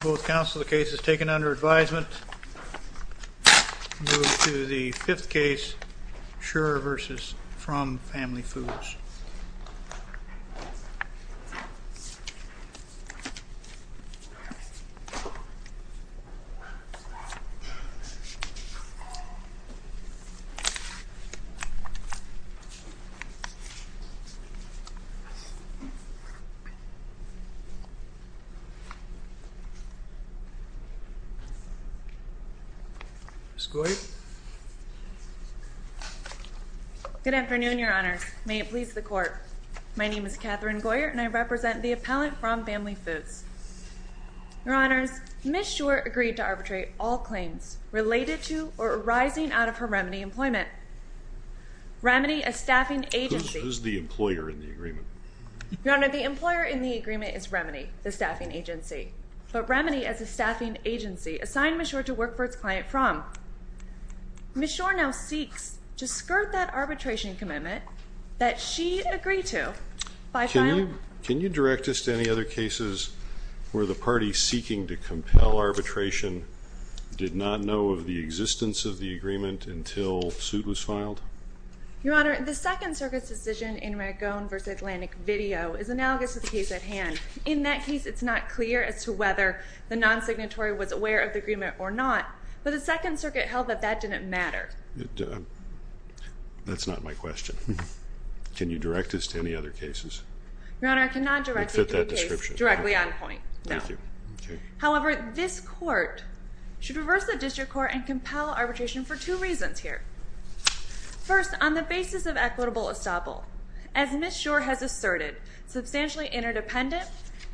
Both counsel the case is taken under advisement. We move to the fifth case, Scheurer v. Fromm Family Foods. Ms. Goyert Good afternoon, Your Honor. May it please the Court. My name is Catherine Goyert and I represent the appellant from Fromm Family Foods. Your Honors, Ms. Scheurer agreed to arbitrate all claims related to or arising out of her Remedy employment. Remedy, a staffing agency Who's the employer in the agreement? Your Honor, the employer in the agreement is Remedy, the staffing agency. But Remedy, as a staffing agency, assigned Ms. Scheurer to work for its client, Fromm. Ms. Scheurer now seeks to skirt that arbitration commitment that she agreed to by filing Can you direct us to any other cases where the party seeking to compel arbitration did not know of the existence of the agreement until suit was filed? Your Honor, the Second Circuit's decision in Ragone v. Atlantic Video is analogous to the case at hand. In that case, it's not clear as to whether the non-signatory was aware of the agreement or not, but the Second Circuit held that that didn't matter. That's not my question. Can you direct us to any other cases? Your Honor, I cannot direct you to a case directly on point, no. However, this Court should reverse the district court and compel arbitration for two reasons here. First, on the basis of equitable estoppel, as Ms. Scheurer has asserted, substantially interdependent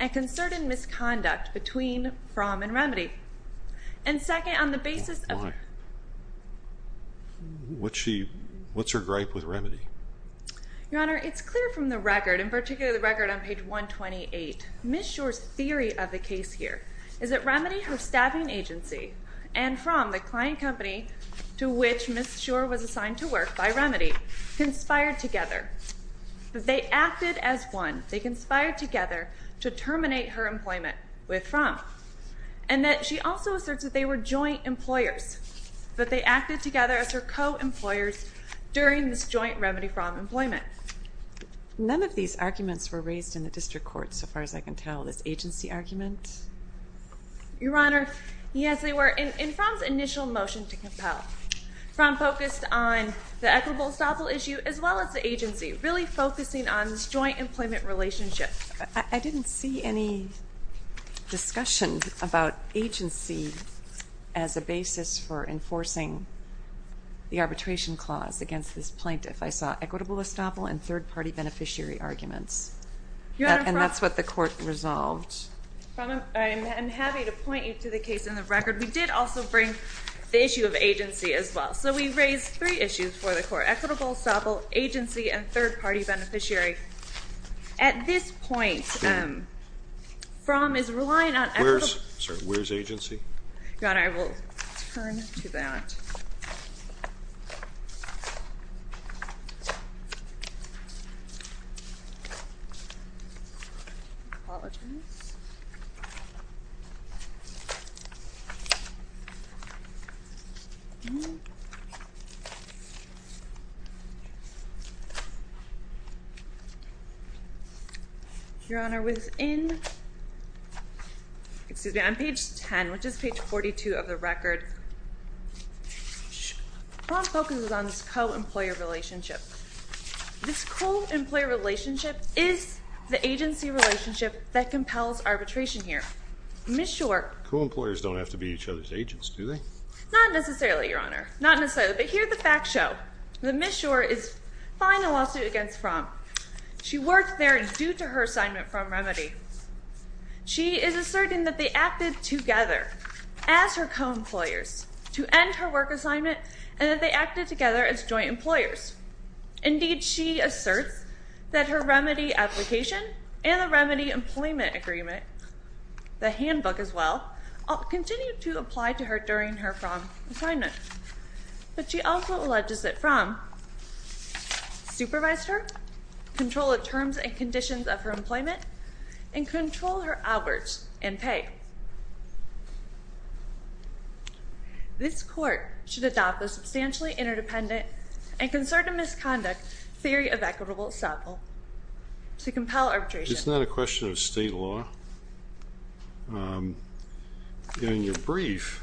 and concerted misconduct between Fromm and Remedy. And second, on the basis of What's her gripe with Remedy? Your Honor, it's clear from the record, in particular the record on page 128, Ms. Scheurer's theory of the case here is that Remedy, her staffing agency, and Fromm, the client company to which Ms. Scheurer was assigned to work by Remedy, conspired together. That they acted as one. They conspired together to terminate her employment with Fromm. And that she also asserts that they were joint employers. That they acted together as her co-employers during this joint Remedy-Fromm employment. None of these arguments were raised in the district court, so far as I can tell. This agency argument? Your Honor, yes they were. In Fromm's initial motion to compel, Fromm focused on the equitable estoppel issue as well as the agency. Really focusing on this joint employment relationship. I didn't see any discussion about agency as a basis for enforcing the arbitration clause against this plaintiff. I saw equitable estoppel and third-party beneficiary arguments. And that's what the court resolved. I'm happy to point you to the case in the record. We did also bring the issue of agency as well. So we raised three issues for the court. Equitable estoppel, agency, and third-party beneficiary. At this point, Fromm is relying on equitable... Where's agency? Your Honor, I will turn to that. Your Honor, within... Excuse me, I'm on page 10, which is page 42 of the record. Fromm focuses on this co-employer relationship. This co-employer relationship is the agency relationship that compels arbitration here. Ms. Schor... Co-employers don't have to be each other's agents, do they? Not necessarily, Your Honor. Not necessarily. But here the facts show that Ms. Schor is filing a lawsuit against Fromm. She worked there due to her assignment from Remedy. She is asserting that they acted together as her co-employers to end her work assignment and that they acted together as joint employers. Indeed, she asserts that her Remedy application and the Remedy employment agreement, the handbook as well, continue to apply to her during her Fromm assignment. But she also alleges that Fromm supervised her, control of terms and conditions of her employment, and control her hours and pay. This court should adopt a substantially interdependent and concerted misconduct theory of equitable example to compel arbitration. It's not a question of state law. In your brief,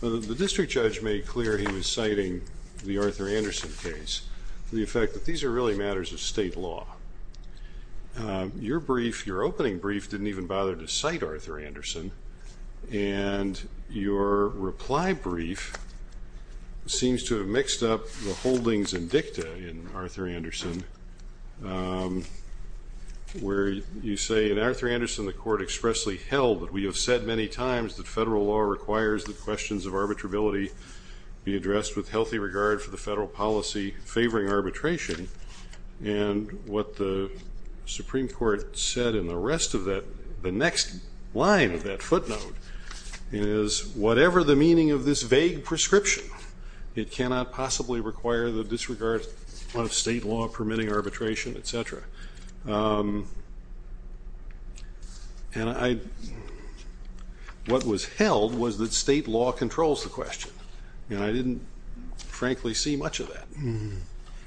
the district judge made clear he was citing the Arthur Anderson case, the effect that these are really matters of state law. Your brief, your opening brief, didn't even bother to cite Arthur Anderson, and your reply brief seems to have mixed up the holdings and dicta in Arthur Anderson, where you say, In Arthur Anderson, the court expressly held that we have said many times that federal law requires that questions of arbitrability be addressed with healthy regard for the federal policy favoring arbitration. And what the Supreme Court said in the rest of that, the next line of that footnote, is whatever the meaning of this vague prescription, it cannot possibly require the disregard of state law permitting arbitration, et cetera. And what was held was that state law controls the question, and I didn't frankly see much of that.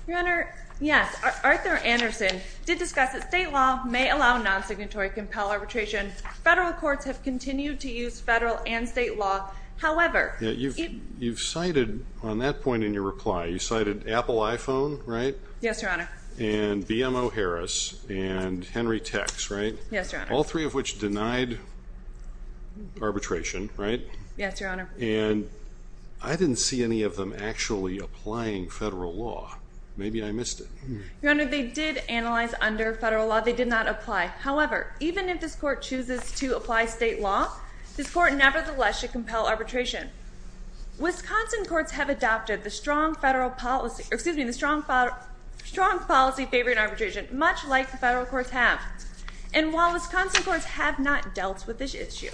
Your Honor, yes, Arthur Anderson did discuss that state law may allow non-signatory compel arbitration. Federal courts have continued to use federal and state law. However, You've cited on that point in your reply, you cited Apple iPhone, right? Yes, Your Honor. And BMO Harris and Henry Tex, right? Yes, Your Honor. All three of which denied arbitration, right? Yes, Your Honor. And I didn't see any of them actually applying federal law. Maybe I missed it. Your Honor, they did analyze under federal law. They did not apply. However, even if this court chooses to apply state law, this court nevertheless should compel arbitration. Wisconsin courts have adopted the strong policy favoring arbitration, much like the federal courts have. And while Wisconsin courts have not dealt with this issue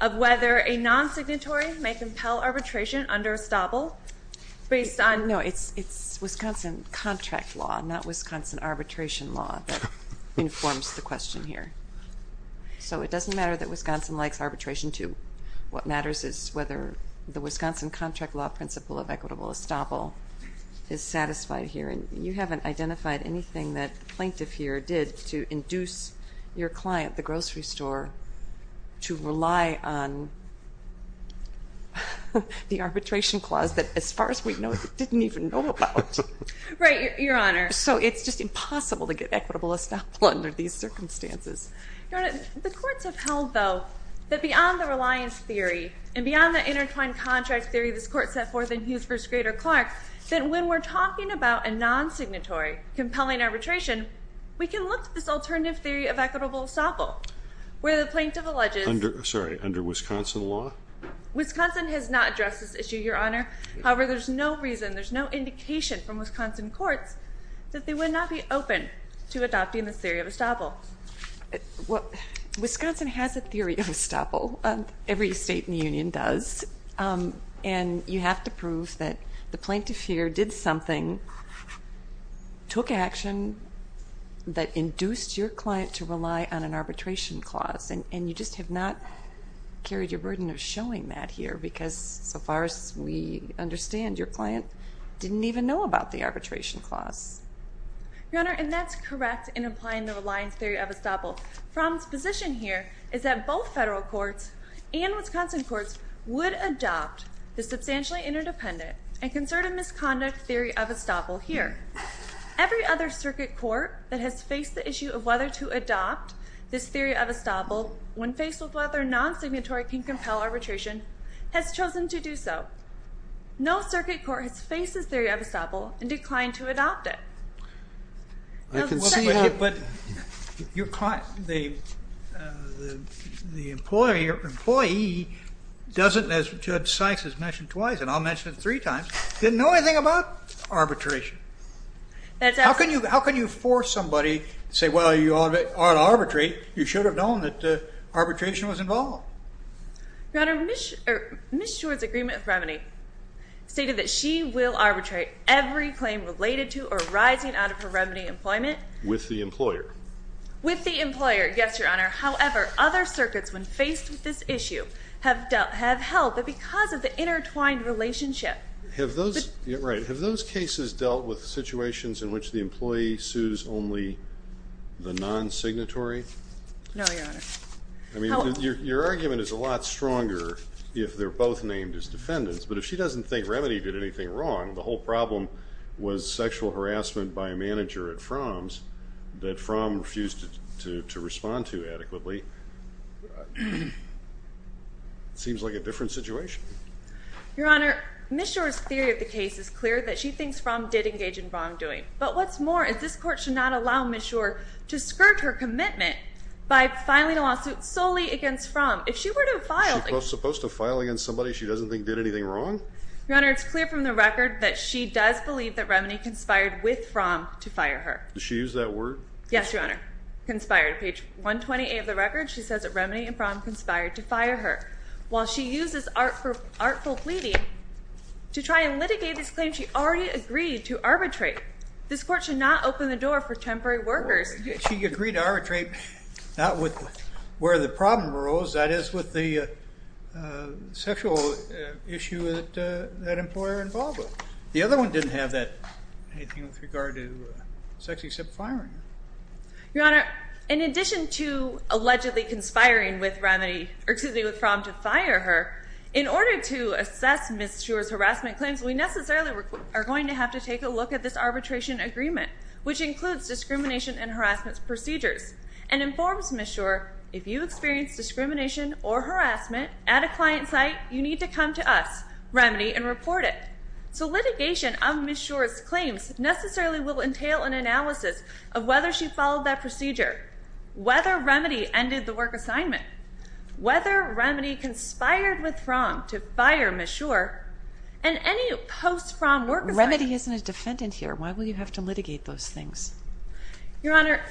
of whether a non-signatory may compel arbitration under estoppel based on No, it's Wisconsin contract law, not Wisconsin arbitration law that informs the question here. So it doesn't matter that Wisconsin likes arbitration, too. What matters is whether the Wisconsin contract law principle of equitable estoppel is satisfied here. And you haven't identified anything that the plaintiff here did to induce your client, the grocery store, to rely on the arbitration clause that, as far as we know, they didn't even know about. Right, Your Honor. So it's just impossible to get equitable estoppel under these circumstances. Your Honor, the courts have held, though, that beyond the reliance theory and beyond the intertwined contract theory this court set forth in Hughes v. Grader-Clark, that when we're talking about a non-signatory compelling arbitration, we can look at this alternative theory of equitable estoppel, where the plaintiff alleges Sorry, under Wisconsin law? Wisconsin has not addressed this issue, Your Honor. However, there's no reason, there's no indication from Wisconsin courts that they would not be open to adopting this theory of estoppel. Well, Wisconsin has a theory of estoppel. Every state in the Union does. And you have to prove that the plaintiff here did something, took action, that induced your client to rely on an arbitration clause. And you just have not carried your burden of showing that here because, so far as we understand, your client didn't even know about the arbitration clause. Your Honor, and that's correct in applying the reliance theory of estoppel. Fromm's position here is that both federal courts and Wisconsin courts would adopt the substantially interdependent and concerted misconduct theory of estoppel here. Every other circuit court that has faced the issue of whether to adopt this theory of estoppel when faced with whether a non-signatory can compel arbitration has chosen to do so. No circuit court has faced this theory of estoppel and declined to adopt it. I can see that. But the employee doesn't, as Judge Sykes has mentioned twice, and I'll mention it three times, didn't know anything about arbitration. How can you force somebody to say, well, you ought to arbitrate. You should have known that arbitration was involved. Your Honor, Ms. Schwartz's agreement of remedy stated that she will arbitrate every claim related to or arising out of her remedy employment. With the employer. With the employer, yes, Your Honor. However, other circuits, when faced with this issue, have held that because of the intertwined relationship. Have those cases dealt with situations in which the employee sues only the non-signatory? No, Your Honor. I mean, your argument is a lot stronger if they're both named as defendants. But if she doesn't think remedy did anything wrong, the whole problem was sexual harassment by a manager at Fromm's that Fromm refused to respond to adequately. It seems like a different situation. Your Honor, Ms. Schwartz's theory of the case is clear that she thinks Fromm did engage in wrongdoing. But what's more is this court should not allow Ms. Schwartz to skirt her commitment by filing a lawsuit solely against Fromm. If she were to file a case. She's supposed to file against somebody she doesn't think did anything wrong? Your Honor, it's clear from the record that she does believe that remedy conspired with Fromm to fire her. Did she use that word? Yes, Your Honor. Conspired. Page 128 of the record, she says that remedy and Fromm conspired to fire her. While she uses artful pleading to try and litigate this claim, she already agreed to arbitrate. This court should not open the door for temporary workers. She agreed to arbitrate, not with where the problem arose, that is with the sexual issue that employer involved with. The other one didn't have anything with regard to sex except firing. Your Honor, in addition to allegedly conspiring with remedy, or excuse me, with Fromm to fire her, in order to assess Ms. Schwartz's harassment claims, we necessarily are going to have to take a look at this arbitration agreement, which includes discrimination and harassment procedures, and informs Ms. Schwartz if you experience discrimination or harassment at a client site, you need to come to us, remedy, and report it. So litigation of Ms. Schwartz's claims necessarily will entail an analysis of whether she followed that procedure, whether remedy ended the work assignment, whether remedy conspired with Fromm to fire Ms. Schwartz, and any post-Fromm work assignment. If remedy isn't a defendant here, why will you have to litigate those things? Your Honor,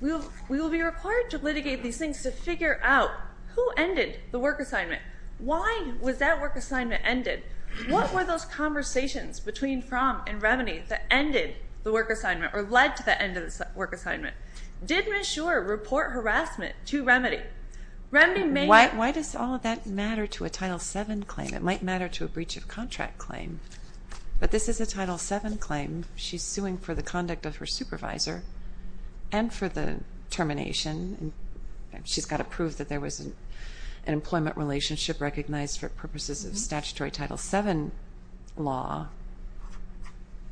we will be required to litigate these things to figure out who ended the work assignment. Why was that work assignment ended? What were those conversations between Fromm and remedy that ended the work assignment, or led to the end of the work assignment? Did Ms. Schwartz report harassment to remedy? Remedy may... Why does all that matter to a Title VII claim? It might matter to a breach of contract claim. But this is a Title VII claim. She's suing for the conduct of her supervisor and for the termination. She's got to prove that there was an employment relationship recognized for purposes of statutory Title VII law.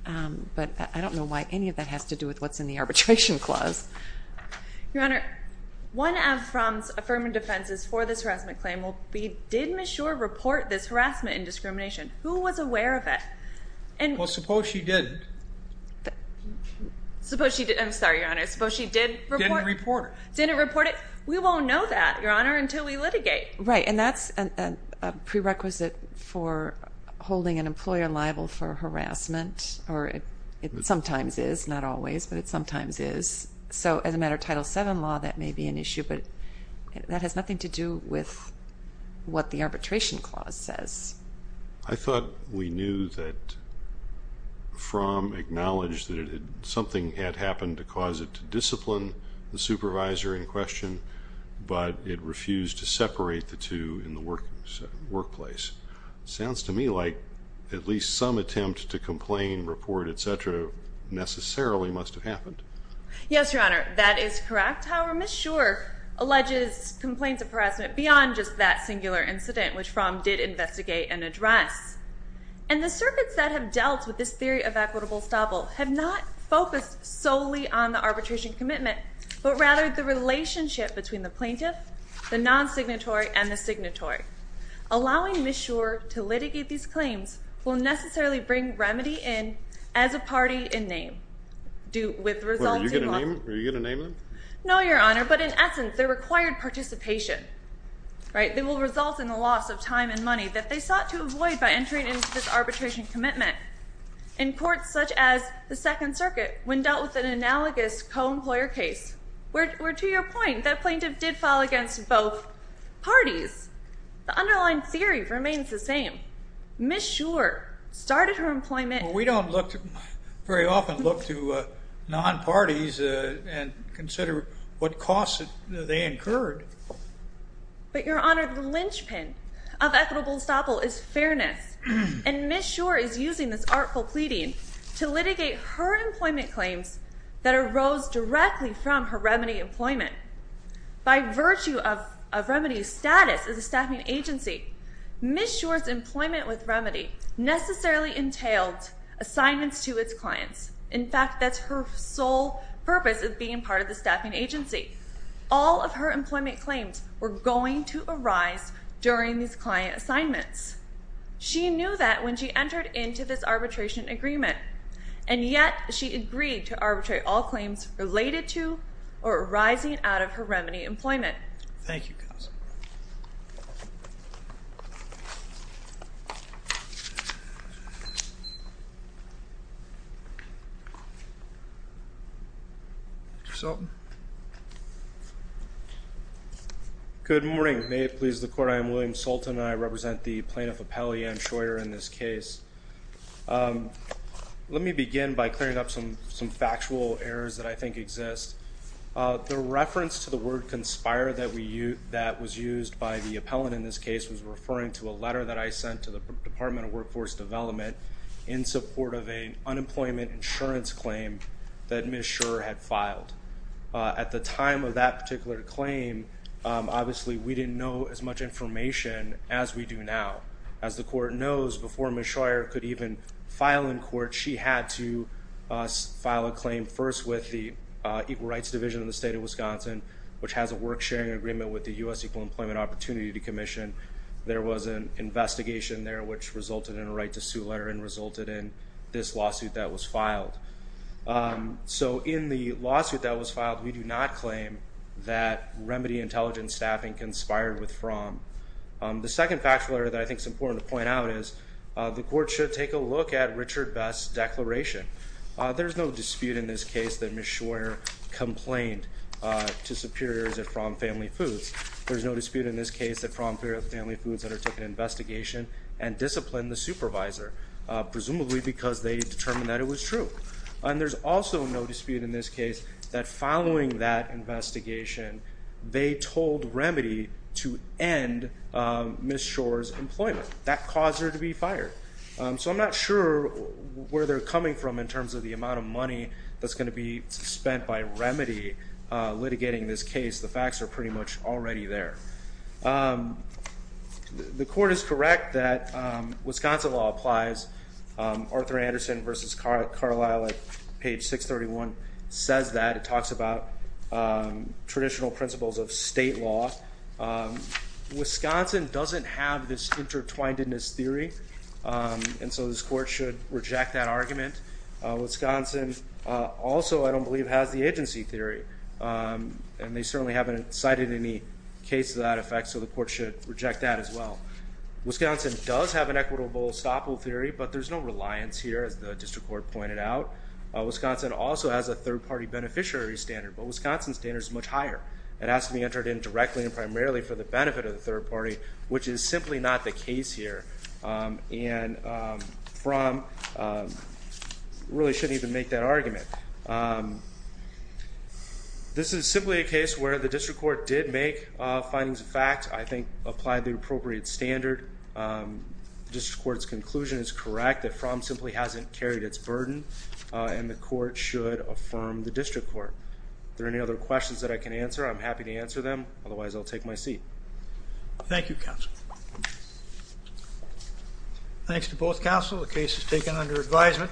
But I don't know why any of that has to do with what's in the arbitration clause. Your Honor, one of Fromm's affirmative defenses for this harassment claim will be, Who was aware of it? Well, suppose she didn't. I'm sorry, Your Honor. Suppose she did report it. Didn't report it. Didn't report it. We won't know that, Your Honor, until we litigate. Right, and that's a prerequisite for holding an employer liable for harassment, or it sometimes is, not always, but it sometimes is. So as a matter of Title VII law, that may be an issue. But that has nothing to do with what the arbitration clause says. I thought we knew that Fromm acknowledged that something had happened to cause it to discipline the supervisor in question, but it refused to separate the two in the workplace. Sounds to me like at least some attempt to complain, report, et cetera, necessarily must have happened. Yes, Your Honor, that is correct. However, Ms. Schor alleges complaints of harassment beyond just that singular incident, which Fromm did investigate and address. And the circuits that have dealt with this theory of equitable estoppel have not focused solely on the arbitration commitment, but rather the relationship between the plaintiff, the non-signatory, and the signatory. Allowing Ms. Schor to litigate these claims will necessarily bring remedy in as a party in name. Are you going to name them? No, Your Honor, but in essence, they're required participation. They will result in the loss of time and money that they sought to avoid by entering into this arbitration commitment. In courts such as the Second Circuit, when dealt with an analogous co-employer case, where, to your point, that plaintiff did file against both parties, the underlying theory remains the same. Ms. Schor started her employment. We don't very often look to non-parties and consider what costs they incurred. But, Your Honor, the linchpin of equitable estoppel is fairness, and Ms. Schor is using this artful pleading to litigate her employment claims that arose directly from her remedy employment. By virtue of remedy's status as a staffing agency, Ms. Schor's employment with remedy necessarily entailed assignments to its clients. In fact, that's her sole purpose of being part of the staffing agency. All of her employment claims were going to arise during these client assignments. She knew that when she entered into this arbitration agreement, and yet she agreed to arbitrate all claims related to or arising out of her remedy employment. Thank you, counsel. Mr. Sultan. Good morning. May it please the Court, I am William Sultan, and I represent the plaintiff appellee, Ann Schor, in this case. Let me begin by clearing up some factual errors that I think exist. The reference to the word conspire that was used by the appellant in this case was referring to a letter that I sent to the Department of Workforce Development in support of an unemployment insurance claim that Ms. Schor had filed. At the time of that particular claim, obviously we didn't know as much information as we do now. As the Court knows, before Ms. Schor could even file in court, she had to file a claim first with the Equal Rights Division of the State of Wisconsin, which has a work-sharing agreement with the U.S. Equal Employment Opportunity Commission. There was an investigation there which resulted in a right-to-sue letter and resulted in this lawsuit that was filed. In the lawsuit that was filed, we do not claim that remedy intelligence staffing conspired with from. The second factual error that I think is important to point out is the Court should take a look at Richard Best's declaration. There's no dispute in this case that Ms. Schor complained to superiors at From Family Foods. There's no dispute in this case that From Family Foods undertook an investigation and disciplined the supervisor, presumably because they determined that it was true. There's also no dispute in this case that following that investigation, they told remedy to end Ms. Schor's employment. That caused her to be fired. So I'm not sure where they're coming from in terms of the amount of money that's going to be spent by remedy litigating this case. The facts are pretty much already there. The Court is correct that Wisconsin law applies. Arthur Anderson v. Carlisle at page 631 says that. It talks about traditional principles of state law. Wisconsin doesn't have this intertwinedness theory, and so this Court should reject that argument. Wisconsin also, I don't believe, has the agency theory, and they certainly haven't cited any case to that effect, so the Court should reject that as well. Wisconsin does have an equitable estoppel theory, but there's no reliance here, as the district court pointed out. Wisconsin also has a third-party beneficiary standard, but Wisconsin's standard is much higher. It has to be entered in directly and primarily for the benefit of the third party, which is simply not the case here, and really shouldn't even make that argument. This is simply a case where the district court did make findings of fact, I think applied the appropriate standard. The district court's conclusion is correct, that Fromm simply hasn't carried its burden, and the Court should affirm the district court. If there are any other questions that I can answer, I'm happy to answer them. Otherwise, I'll take my seat. Thank you, counsel. Thanks to both counsel. The case is taken under advisement.